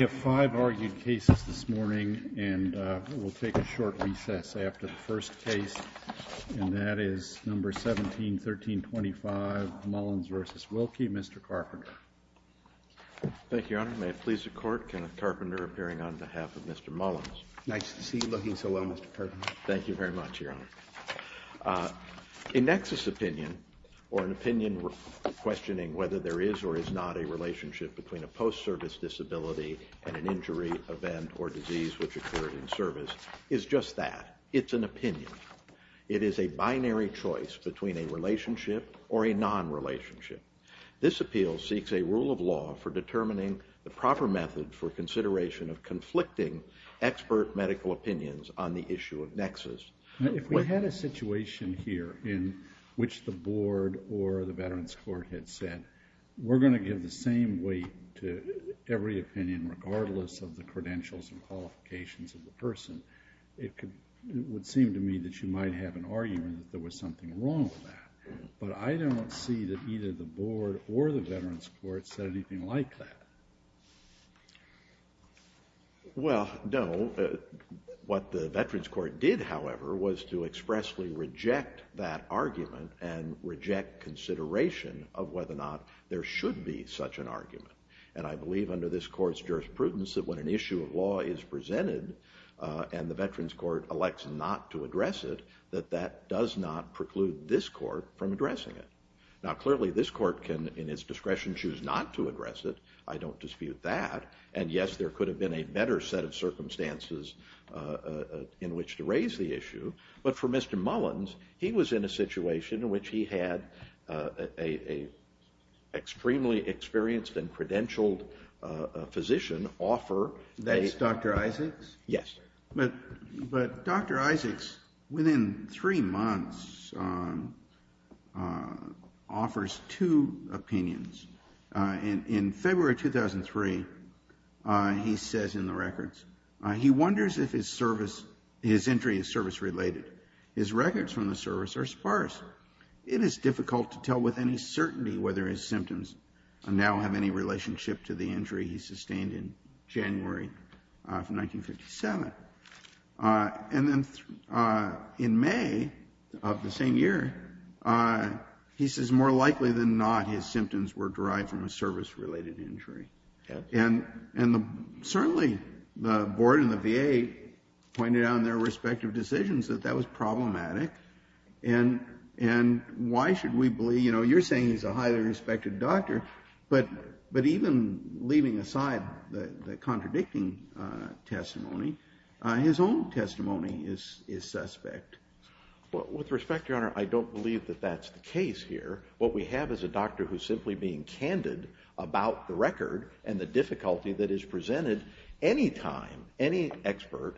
We have five argued cases this morning, and we'll take a short recess after the first case, and that is No. 17-1325 Mullins v. Wilkie. Mr. Carpenter. Thank you, Your Honor. May it please the Court, Kenneth Carpenter appearing on behalf of Mr. Mullins. Nice to see you looking so well, Mr. Carpenter. Thank you very much, Your Honor. A nexus opinion, or an opinion questioning whether there is or is not a relationship between a post-service disability and an injury, event, or disease which occurred in service, is just that. It's an opinion. It is a binary choice between a relationship or a non-relationship. This appeal seeks a rule of law for determining the proper method for consideration of conflicting expert medical opinions on the issue of nexus. If we had a situation here in which the Board or the Veterans Court had said, we're going to give the same weight to every opinion regardless of the credentials and qualifications of the person, it would seem to me that you might have an argument that there was something wrong with that. But I don't see that either the Board or the Veterans Court said anything like that. Well, no. What the Veterans Court did, however, was to expressly reject that argument and reject consideration of whether or not there should be such an argument. And I believe under this Court's jurisprudence that when an issue of law is presented and the Veterans Court elects not to address it, that that does not preclude this Court from addressing it. Now, clearly, this Court can, in its discretion, choose not to address it. I don't dispute that. And, yes, there could have been a better set of circumstances in which to raise the issue. But for Mr. Mullins, he was in a situation in which he had an extremely experienced and credentialed physician offer. That is Dr. Isaacs? Yes. But Dr. Isaacs, within three months, offers two opinions. In February 2003, he says in the records, he wonders if his entry is service-related. His records from the service are sparse. It is difficult to tell with any certainty whether his symptoms now have any relationship to the injury he sustained in January of 1957. And then in May of the same year, he says more likely than not, his symptoms were derived from a service-related injury. And certainly the board and the VA pointed out in their respective decisions that that was problematic. And why should we believe, you know, you're saying he's a highly respected doctor, but even leaving aside the contradicting testimony, his own testimony is suspect. Well, with respect, Your Honor, I don't believe that that's the case here. What we have is a doctor who's simply being candid about the record and the difficulty that is presented any time any expert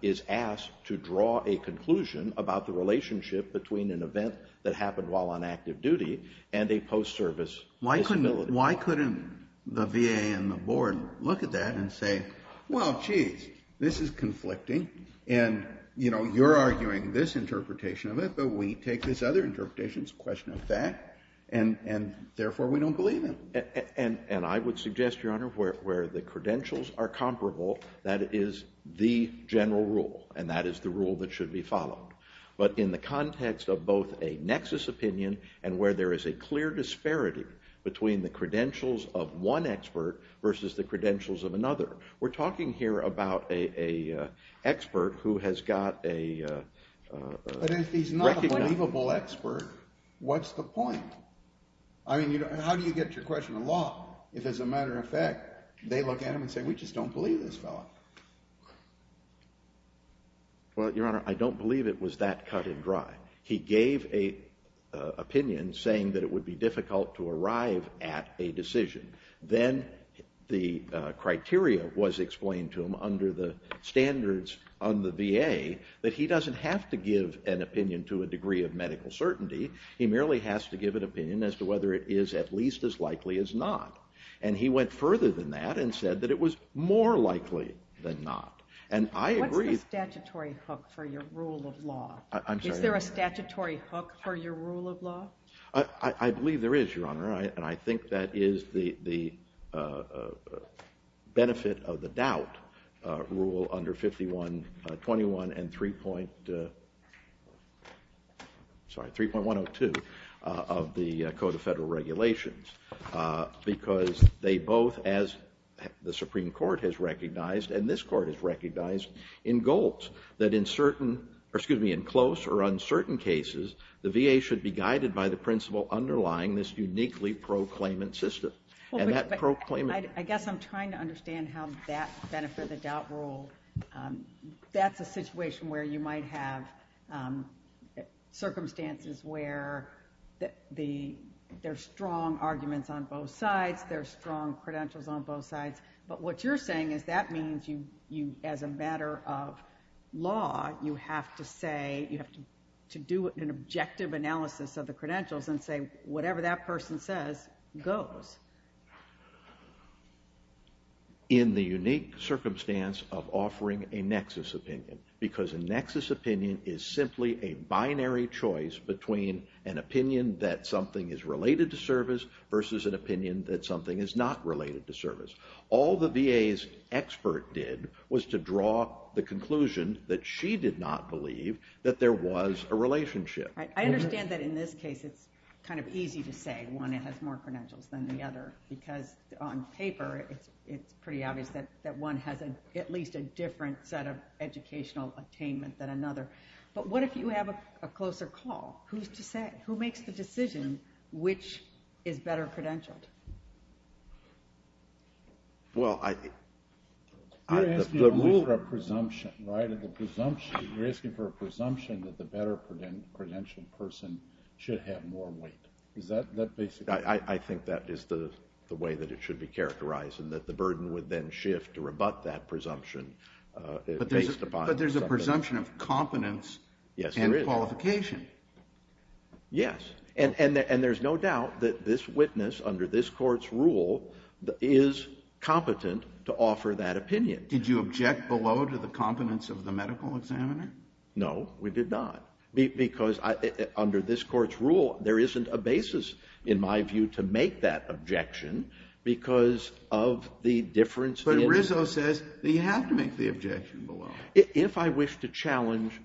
is asked to draw a conclusion about the relationship between an event that happened while on active duty and a post-service disability. Why couldn't the VA and the board look at that and say, well, geez, this is conflicting, and, you know, you're arguing this interpretation of it, but we take this other interpretation, it's a question of fact, and therefore we don't believe him? And I would suggest, Your Honor, where the credentials are comparable, that is the general rule, and that is the rule that should be followed. But in the context of both a nexus opinion and where there is a clear disparity between the credentials of one expert versus the credentials of another. We're talking here about an expert who has got a... But if he's not a believable expert, what's the point? I mean, how do you get your question along if, as a matter of fact, they look at him and say, we just don't believe this fellow? Well, Your Honor, I don't believe it was that cut and dry. He gave an opinion saying that it would be difficult to arrive at a decision. Then the criteria was explained to him under the standards on the VA that he doesn't have to give an opinion to a degree of medical certainty. He merely has to give an opinion as to whether it is at least as likely as not. And he went further than that and said that it was more likely than not. What's the statutory hook for your rule of law? Is there a statutory hook for your rule of law? I believe there is, Your Honor, and I think that is the benefit of the doubt rule under 5121 and 3.102 of the Code of Federal Regulations because they both, as the Supreme Court has recognized and this Court has recognized, engulfs that in close or uncertain cases, the VA should be guided by the principle underlying this uniquely proclaimant system. I guess I'm trying to understand how that benefits the doubt rule. That's a situation where you might have circumstances where there are strong arguments on both sides, there are strong credentials on both sides, but what you're saying is that means as a matter of law, you have to do an objective analysis of the credentials and say whatever that person says goes. In the unique circumstance of offering a nexus opinion because a nexus opinion is simply a binary choice between an opinion that something is related to service versus an opinion that something is not related to service. All the VA's expert did was to draw the conclusion that she did not believe that there was a relationship. I understand that in this case, it's kind of easy to say one has more credentials than the other because on paper, it's pretty obvious that one has at least a different set of educational attainment than another. But what if you have a closer call? Who makes the decision which is better credentialed? You're asking for a presumption, right? You're asking for a presumption that the better credentialed person should have more weight. I think that is the way that it should be characterized and that the burden would then shift to rebut that presumption. But there's a presumption of competence and qualification. Yes. And there's no doubt that this witness under this court's rule is competent to offer that opinion. Did you object below to the competence of the medical examiner? No, we did not. Because under this court's rule, there isn't a basis in my view to make that objection because of the difference in... But Rizzo says that you have to make the objection below. If I wish to challenge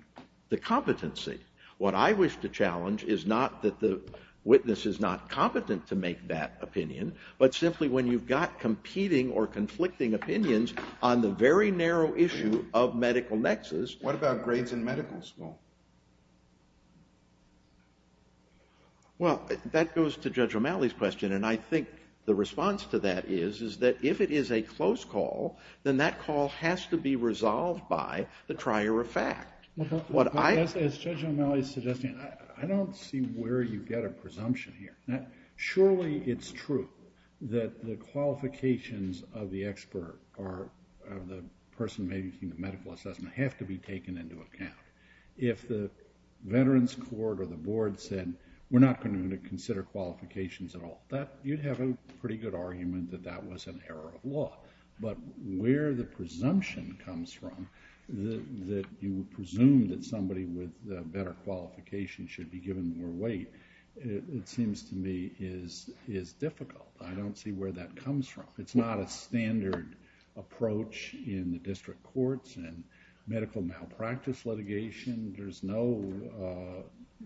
the competency, what I wish to challenge is not that the witness is not competent to make that opinion, but simply when you've got competing or conflicting opinions on the very narrow issue of medical nexus... What about grades in medical school? Well, that goes to Judge O'Malley's question, and I think the response to that is that if it is a close call, then that call has to be resolved by the trier of fact. As Judge O'Malley is suggesting, I don't see where you get a presumption here. Surely it's true that the qualifications of the expert or the person making the medical assessment have to be taken into account. If the veterans court or the board said, we're not going to consider qualifications at all, you'd have a pretty good argument that that was an error of law. But where the presumption comes from that you would presume that somebody with better qualifications should be given more weight, it seems to me is difficult. I don't see where that comes from. It's not a standard approach in the district courts and medical malpractice litigation. There's no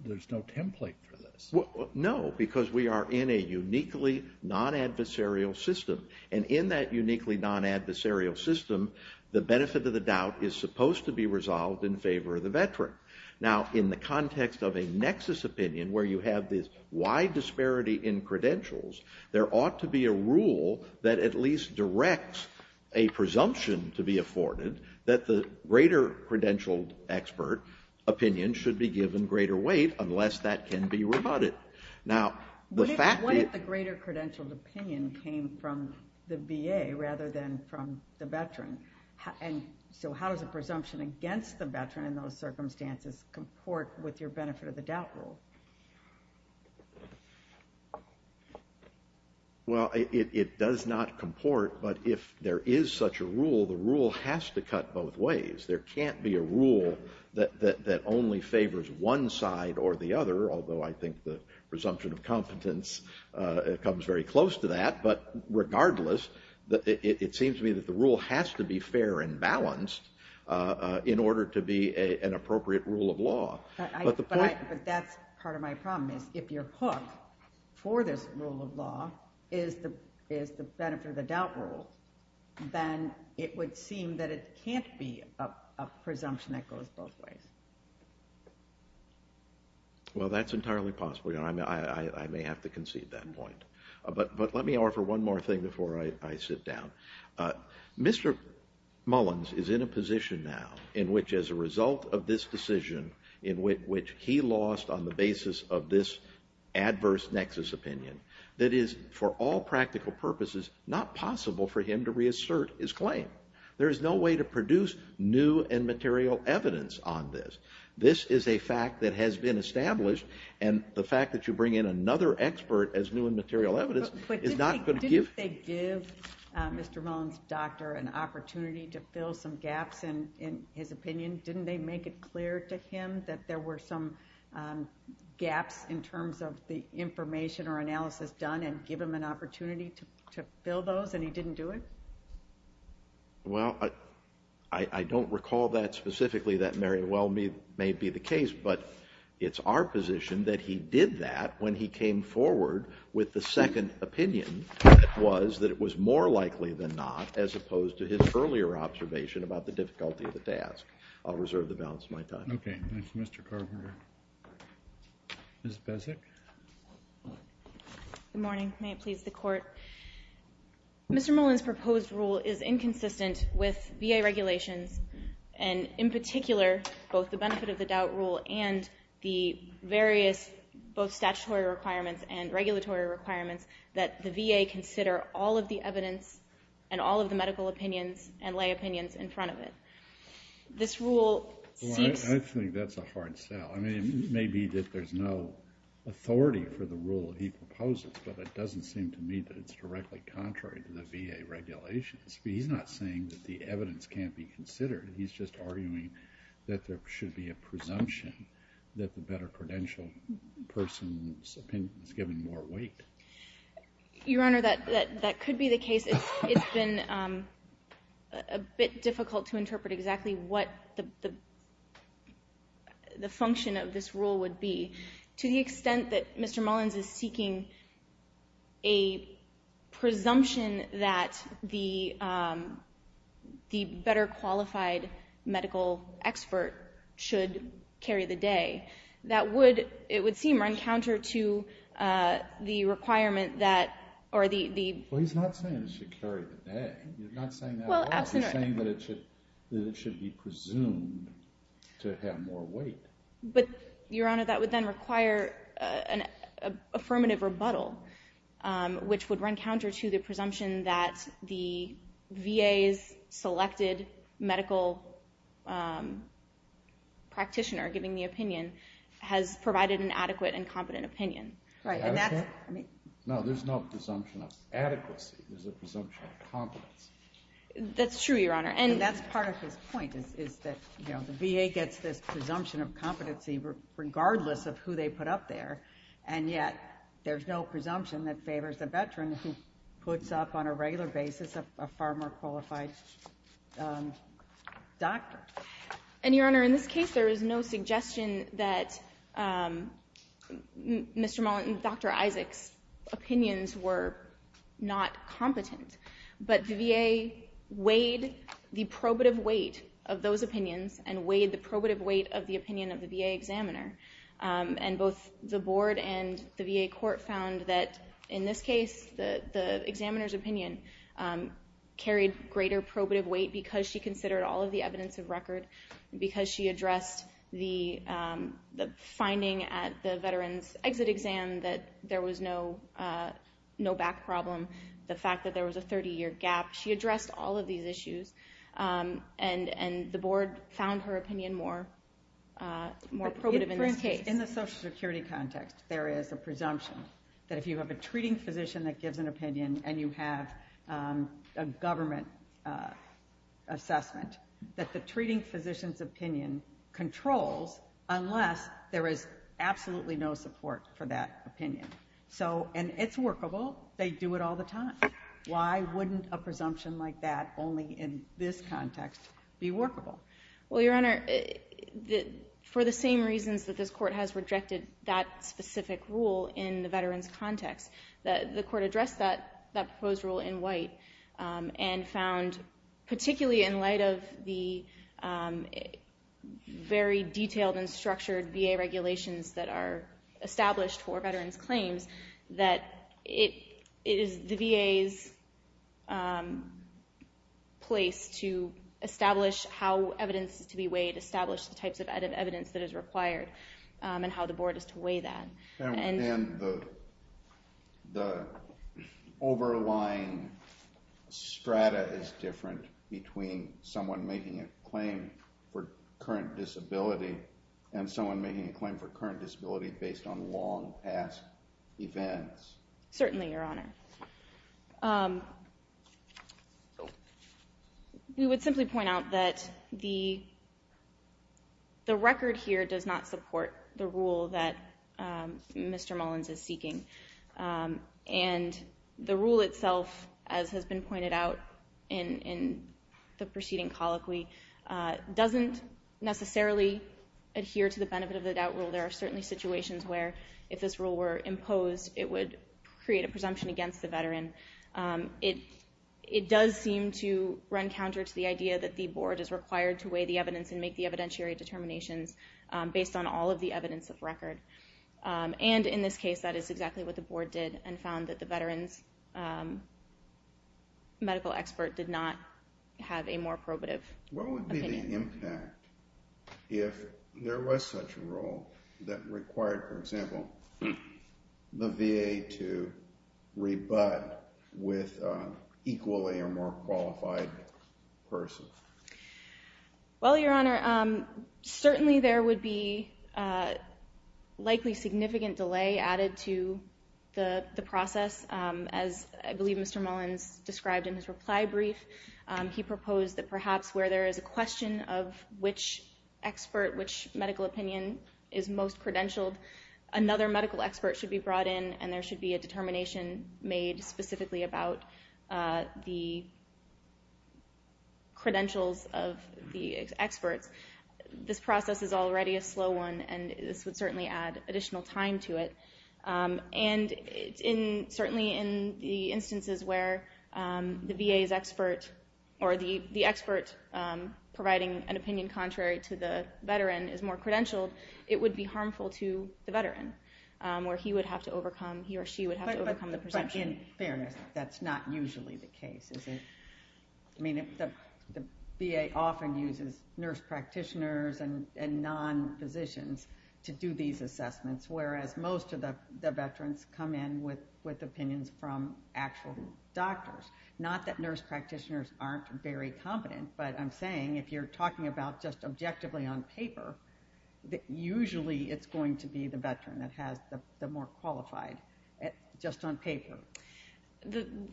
template for this. No, because we are in a uniquely non-adversarial system, and in that uniquely non-adversarial system, the benefit of the doubt is supposed to be resolved in favor of the veteran. Now, in the context of a nexus opinion where you have this wide disparity in credentials, there ought to be a rule that at least directs a presumption to be afforded that the greater credentialed expert opinion should be given greater weight unless that can be rebutted. Now, the fact that... What if the greater credentialed opinion came from the VA rather than from the veteran? And so how does a presumption against the veteran in those circumstances comport with your benefit of the doubt rule? Well, it does not comport, but if there is such a rule, the rule has to cut both ways. There can't be a rule that only favors one side or the other, although I think the presumption of competence comes very close to that. But regardless, it seems to me that the rule has to be fair and balanced in order to be an appropriate rule of law. But that's part of my problem, is if your hook for this rule of law is the benefit of the doubt rule, then it would seem that it can't be a presumption that goes both ways. Well, that's entirely possible. I may have to concede that point. But let me offer one more thing before I sit down. Mr. Mullins is in a position now in which as a result of this decision in which he lost on the basis of this adverse nexus opinion, that it is, for all practical purposes, not possible for him to reassert his claim. There is no way to produce new and material evidence on this. This is a fact that has been established, and the fact that you bring in another expert as new and material evidence is not going to give... But didn't they give Mr. Mullins' doctor an opportunity to fill some gaps in his opinion? Didn't they make it clear to him that there were some gaps in terms of the information or analysis done and give him an opportunity to fill those, and he didn't do it? Well, I don't recall that specifically that very well may be the case, but it's our position that he did that when he came forward with the second opinion, and it was that it was more likely than not, as opposed to his earlier observation about the difficulty of the task. I'll reserve the balance of my time. Okay, thank you, Mr. Carpenter. Ms. Bezek? Good morning. May it please the Court? Mr. Mullins' proposed rule is inconsistent with VA regulations, and in particular both the benefit of the doubt rule and the various both statutory requirements and regulatory requirements that the VA consider all of the evidence and all of the medical opinions and lay opinions in front of it. This rule seeks... Well, I think that's a hard sell. I mean, it may be that there's no authority for the rule he proposes, but it doesn't seem to me that it's directly contrary to the VA regulations. He's not saying that the evidence can't be considered. He's just arguing that there should be a presumption that the better credentialed person's opinion is given more weight. Your Honor, that could be the case. It's been a bit difficult to interpret exactly what the function of this rule would be. To the extent that Mr. Mullins is seeking a presumption that the better qualified medical expert should carry the day, it would seem run counter to the requirement that... Well, he's not saying it should carry the day. He's not saying that at all. He's saying that it should be presumed to have more weight. But, Your Honor, that would then require an affirmative rebuttal, which would run counter to the presumption that the VA's selected medical practitioner giving the opinion has provided an adequate and competent opinion. No, there's no presumption of adequacy. There's a presumption of competence. That's true, Your Honor, and that's part of his point, is that the VA gets this presumption of competency regardless of who they put up there, and yet there's no presumption that favors a veteran who puts up on a regular basis a far more qualified doctor. And, Your Honor, in this case, there is no suggestion that Dr. Isaac's opinions were not competent, but the VA weighed the probative weight of those opinions and weighed the probative weight of the opinion of the VA examiner, and both the board and the VA court found that, in this case, the examiner's opinion carried greater probative weight because she considered all of the evidence of record and because she addressed the finding at the veteran's exit exam that there was no back problem, the fact that there was a 30-year gap. She addressed all of these issues, and the board found her opinion more probative in this case. For instance, in the Social Security context, there is a presumption that if you have a treating physician that gives an opinion and you have a government assessment, that the treating physician's opinion controls unless there is absolutely no support for that opinion. And it's workable. They do it all the time. Why wouldn't a presumption like that only in this context be workable? Well, Your Honor, for the same reasons that this Court has rejected that specific rule in the veteran's context, the Court addressed that proposed rule in White and found, particularly in light of the very detailed and structured VA regulations that are established for veterans' claims, that it is the VA's place to establish how evidence is to be weighed, establish the types of evidence that is required, and how the board is to weigh that. Then the overlying strata is different between someone making a claim for current disability and someone making a claim for current disability based on long-past events. Certainly, Your Honor. We would simply point out that the record here does not support the rule that Mr. Mullins is seeking. And the rule itself, as has been pointed out in the preceding colloquy, doesn't necessarily adhere to the benefit-of-the-doubt rule. There are certainly situations where if this rule were imposed, it would create a presumption against the veteran. It does seem to run counter to the idea that the board is required to weigh the evidence and make the evidentiary determinations based on all of the evidence of record. And in this case, that is exactly what the board did and found that the veteran's medical expert did not have a more probative opinion. What would be the impact if there was such a rule that required, for example, the VA to rebut with an equally or more qualified person? Well, Your Honor, certainly there would be likely significant delay added to the process. As I believe Mr. Mullins described in his reply brief, he proposed that perhaps where there is a question of which expert, which medical opinion is most credentialed, another medical expert should be brought in and there should be a determination made specifically about the credentials of the experts. This process is already a slow one and this would certainly add additional time to it. And certainly in the instances where the VA's expert or the expert providing an opinion contrary to the veteran is more credentialed, it would be harmful to the veteran, where he or she would have to overcome the presumption. But in fairness, that's not usually the case, is it? I mean, the VA often uses nurse practitioners and non-physicians to do these assessments, whereas most of the veterans come in with opinions from actual doctors. Not that nurse practitioners aren't very competent, usually it's going to be the veteran that has the more qualified, just on paper.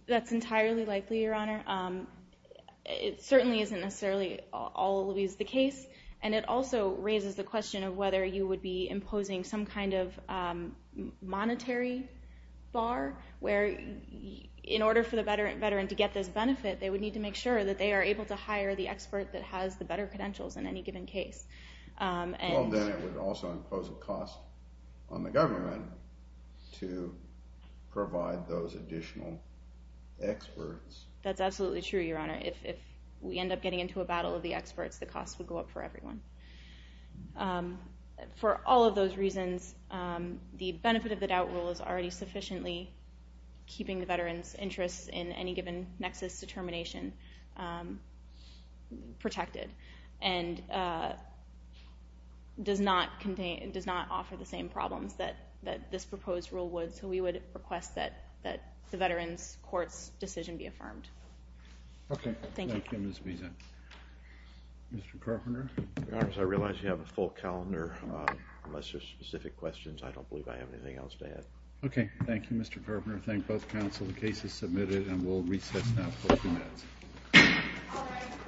That's entirely likely, Your Honor. It certainly isn't necessarily always the case and it also raises the question of whether you would be imposing some kind of monetary bar, where in order for the veteran to get this benefit, they would need to make sure that they are able to hire the expert that has the better credentials in any given case. Well, then it would also impose a cost on the government to provide those additional experts. That's absolutely true, Your Honor. If we end up getting into a battle of the experts, the cost would go up for everyone. For all of those reasons, the benefit of the doubt rule is already sufficiently keeping the veteran's interests in any given nexus determination protected and does not offer the same problems that this proposed rule would, so we would request that the veteran's court's decision be affirmed. Thank you. Thank you, Ms. Wiese. Mr. Carpenter? Your Honors, I realize you have a full calendar. Unless there are specific questions, I don't believe I have anything else to add. Okay. Thank you, Mr. Carpenter. I thank both counsel. The case is submitted, and we'll recess now for a few minutes.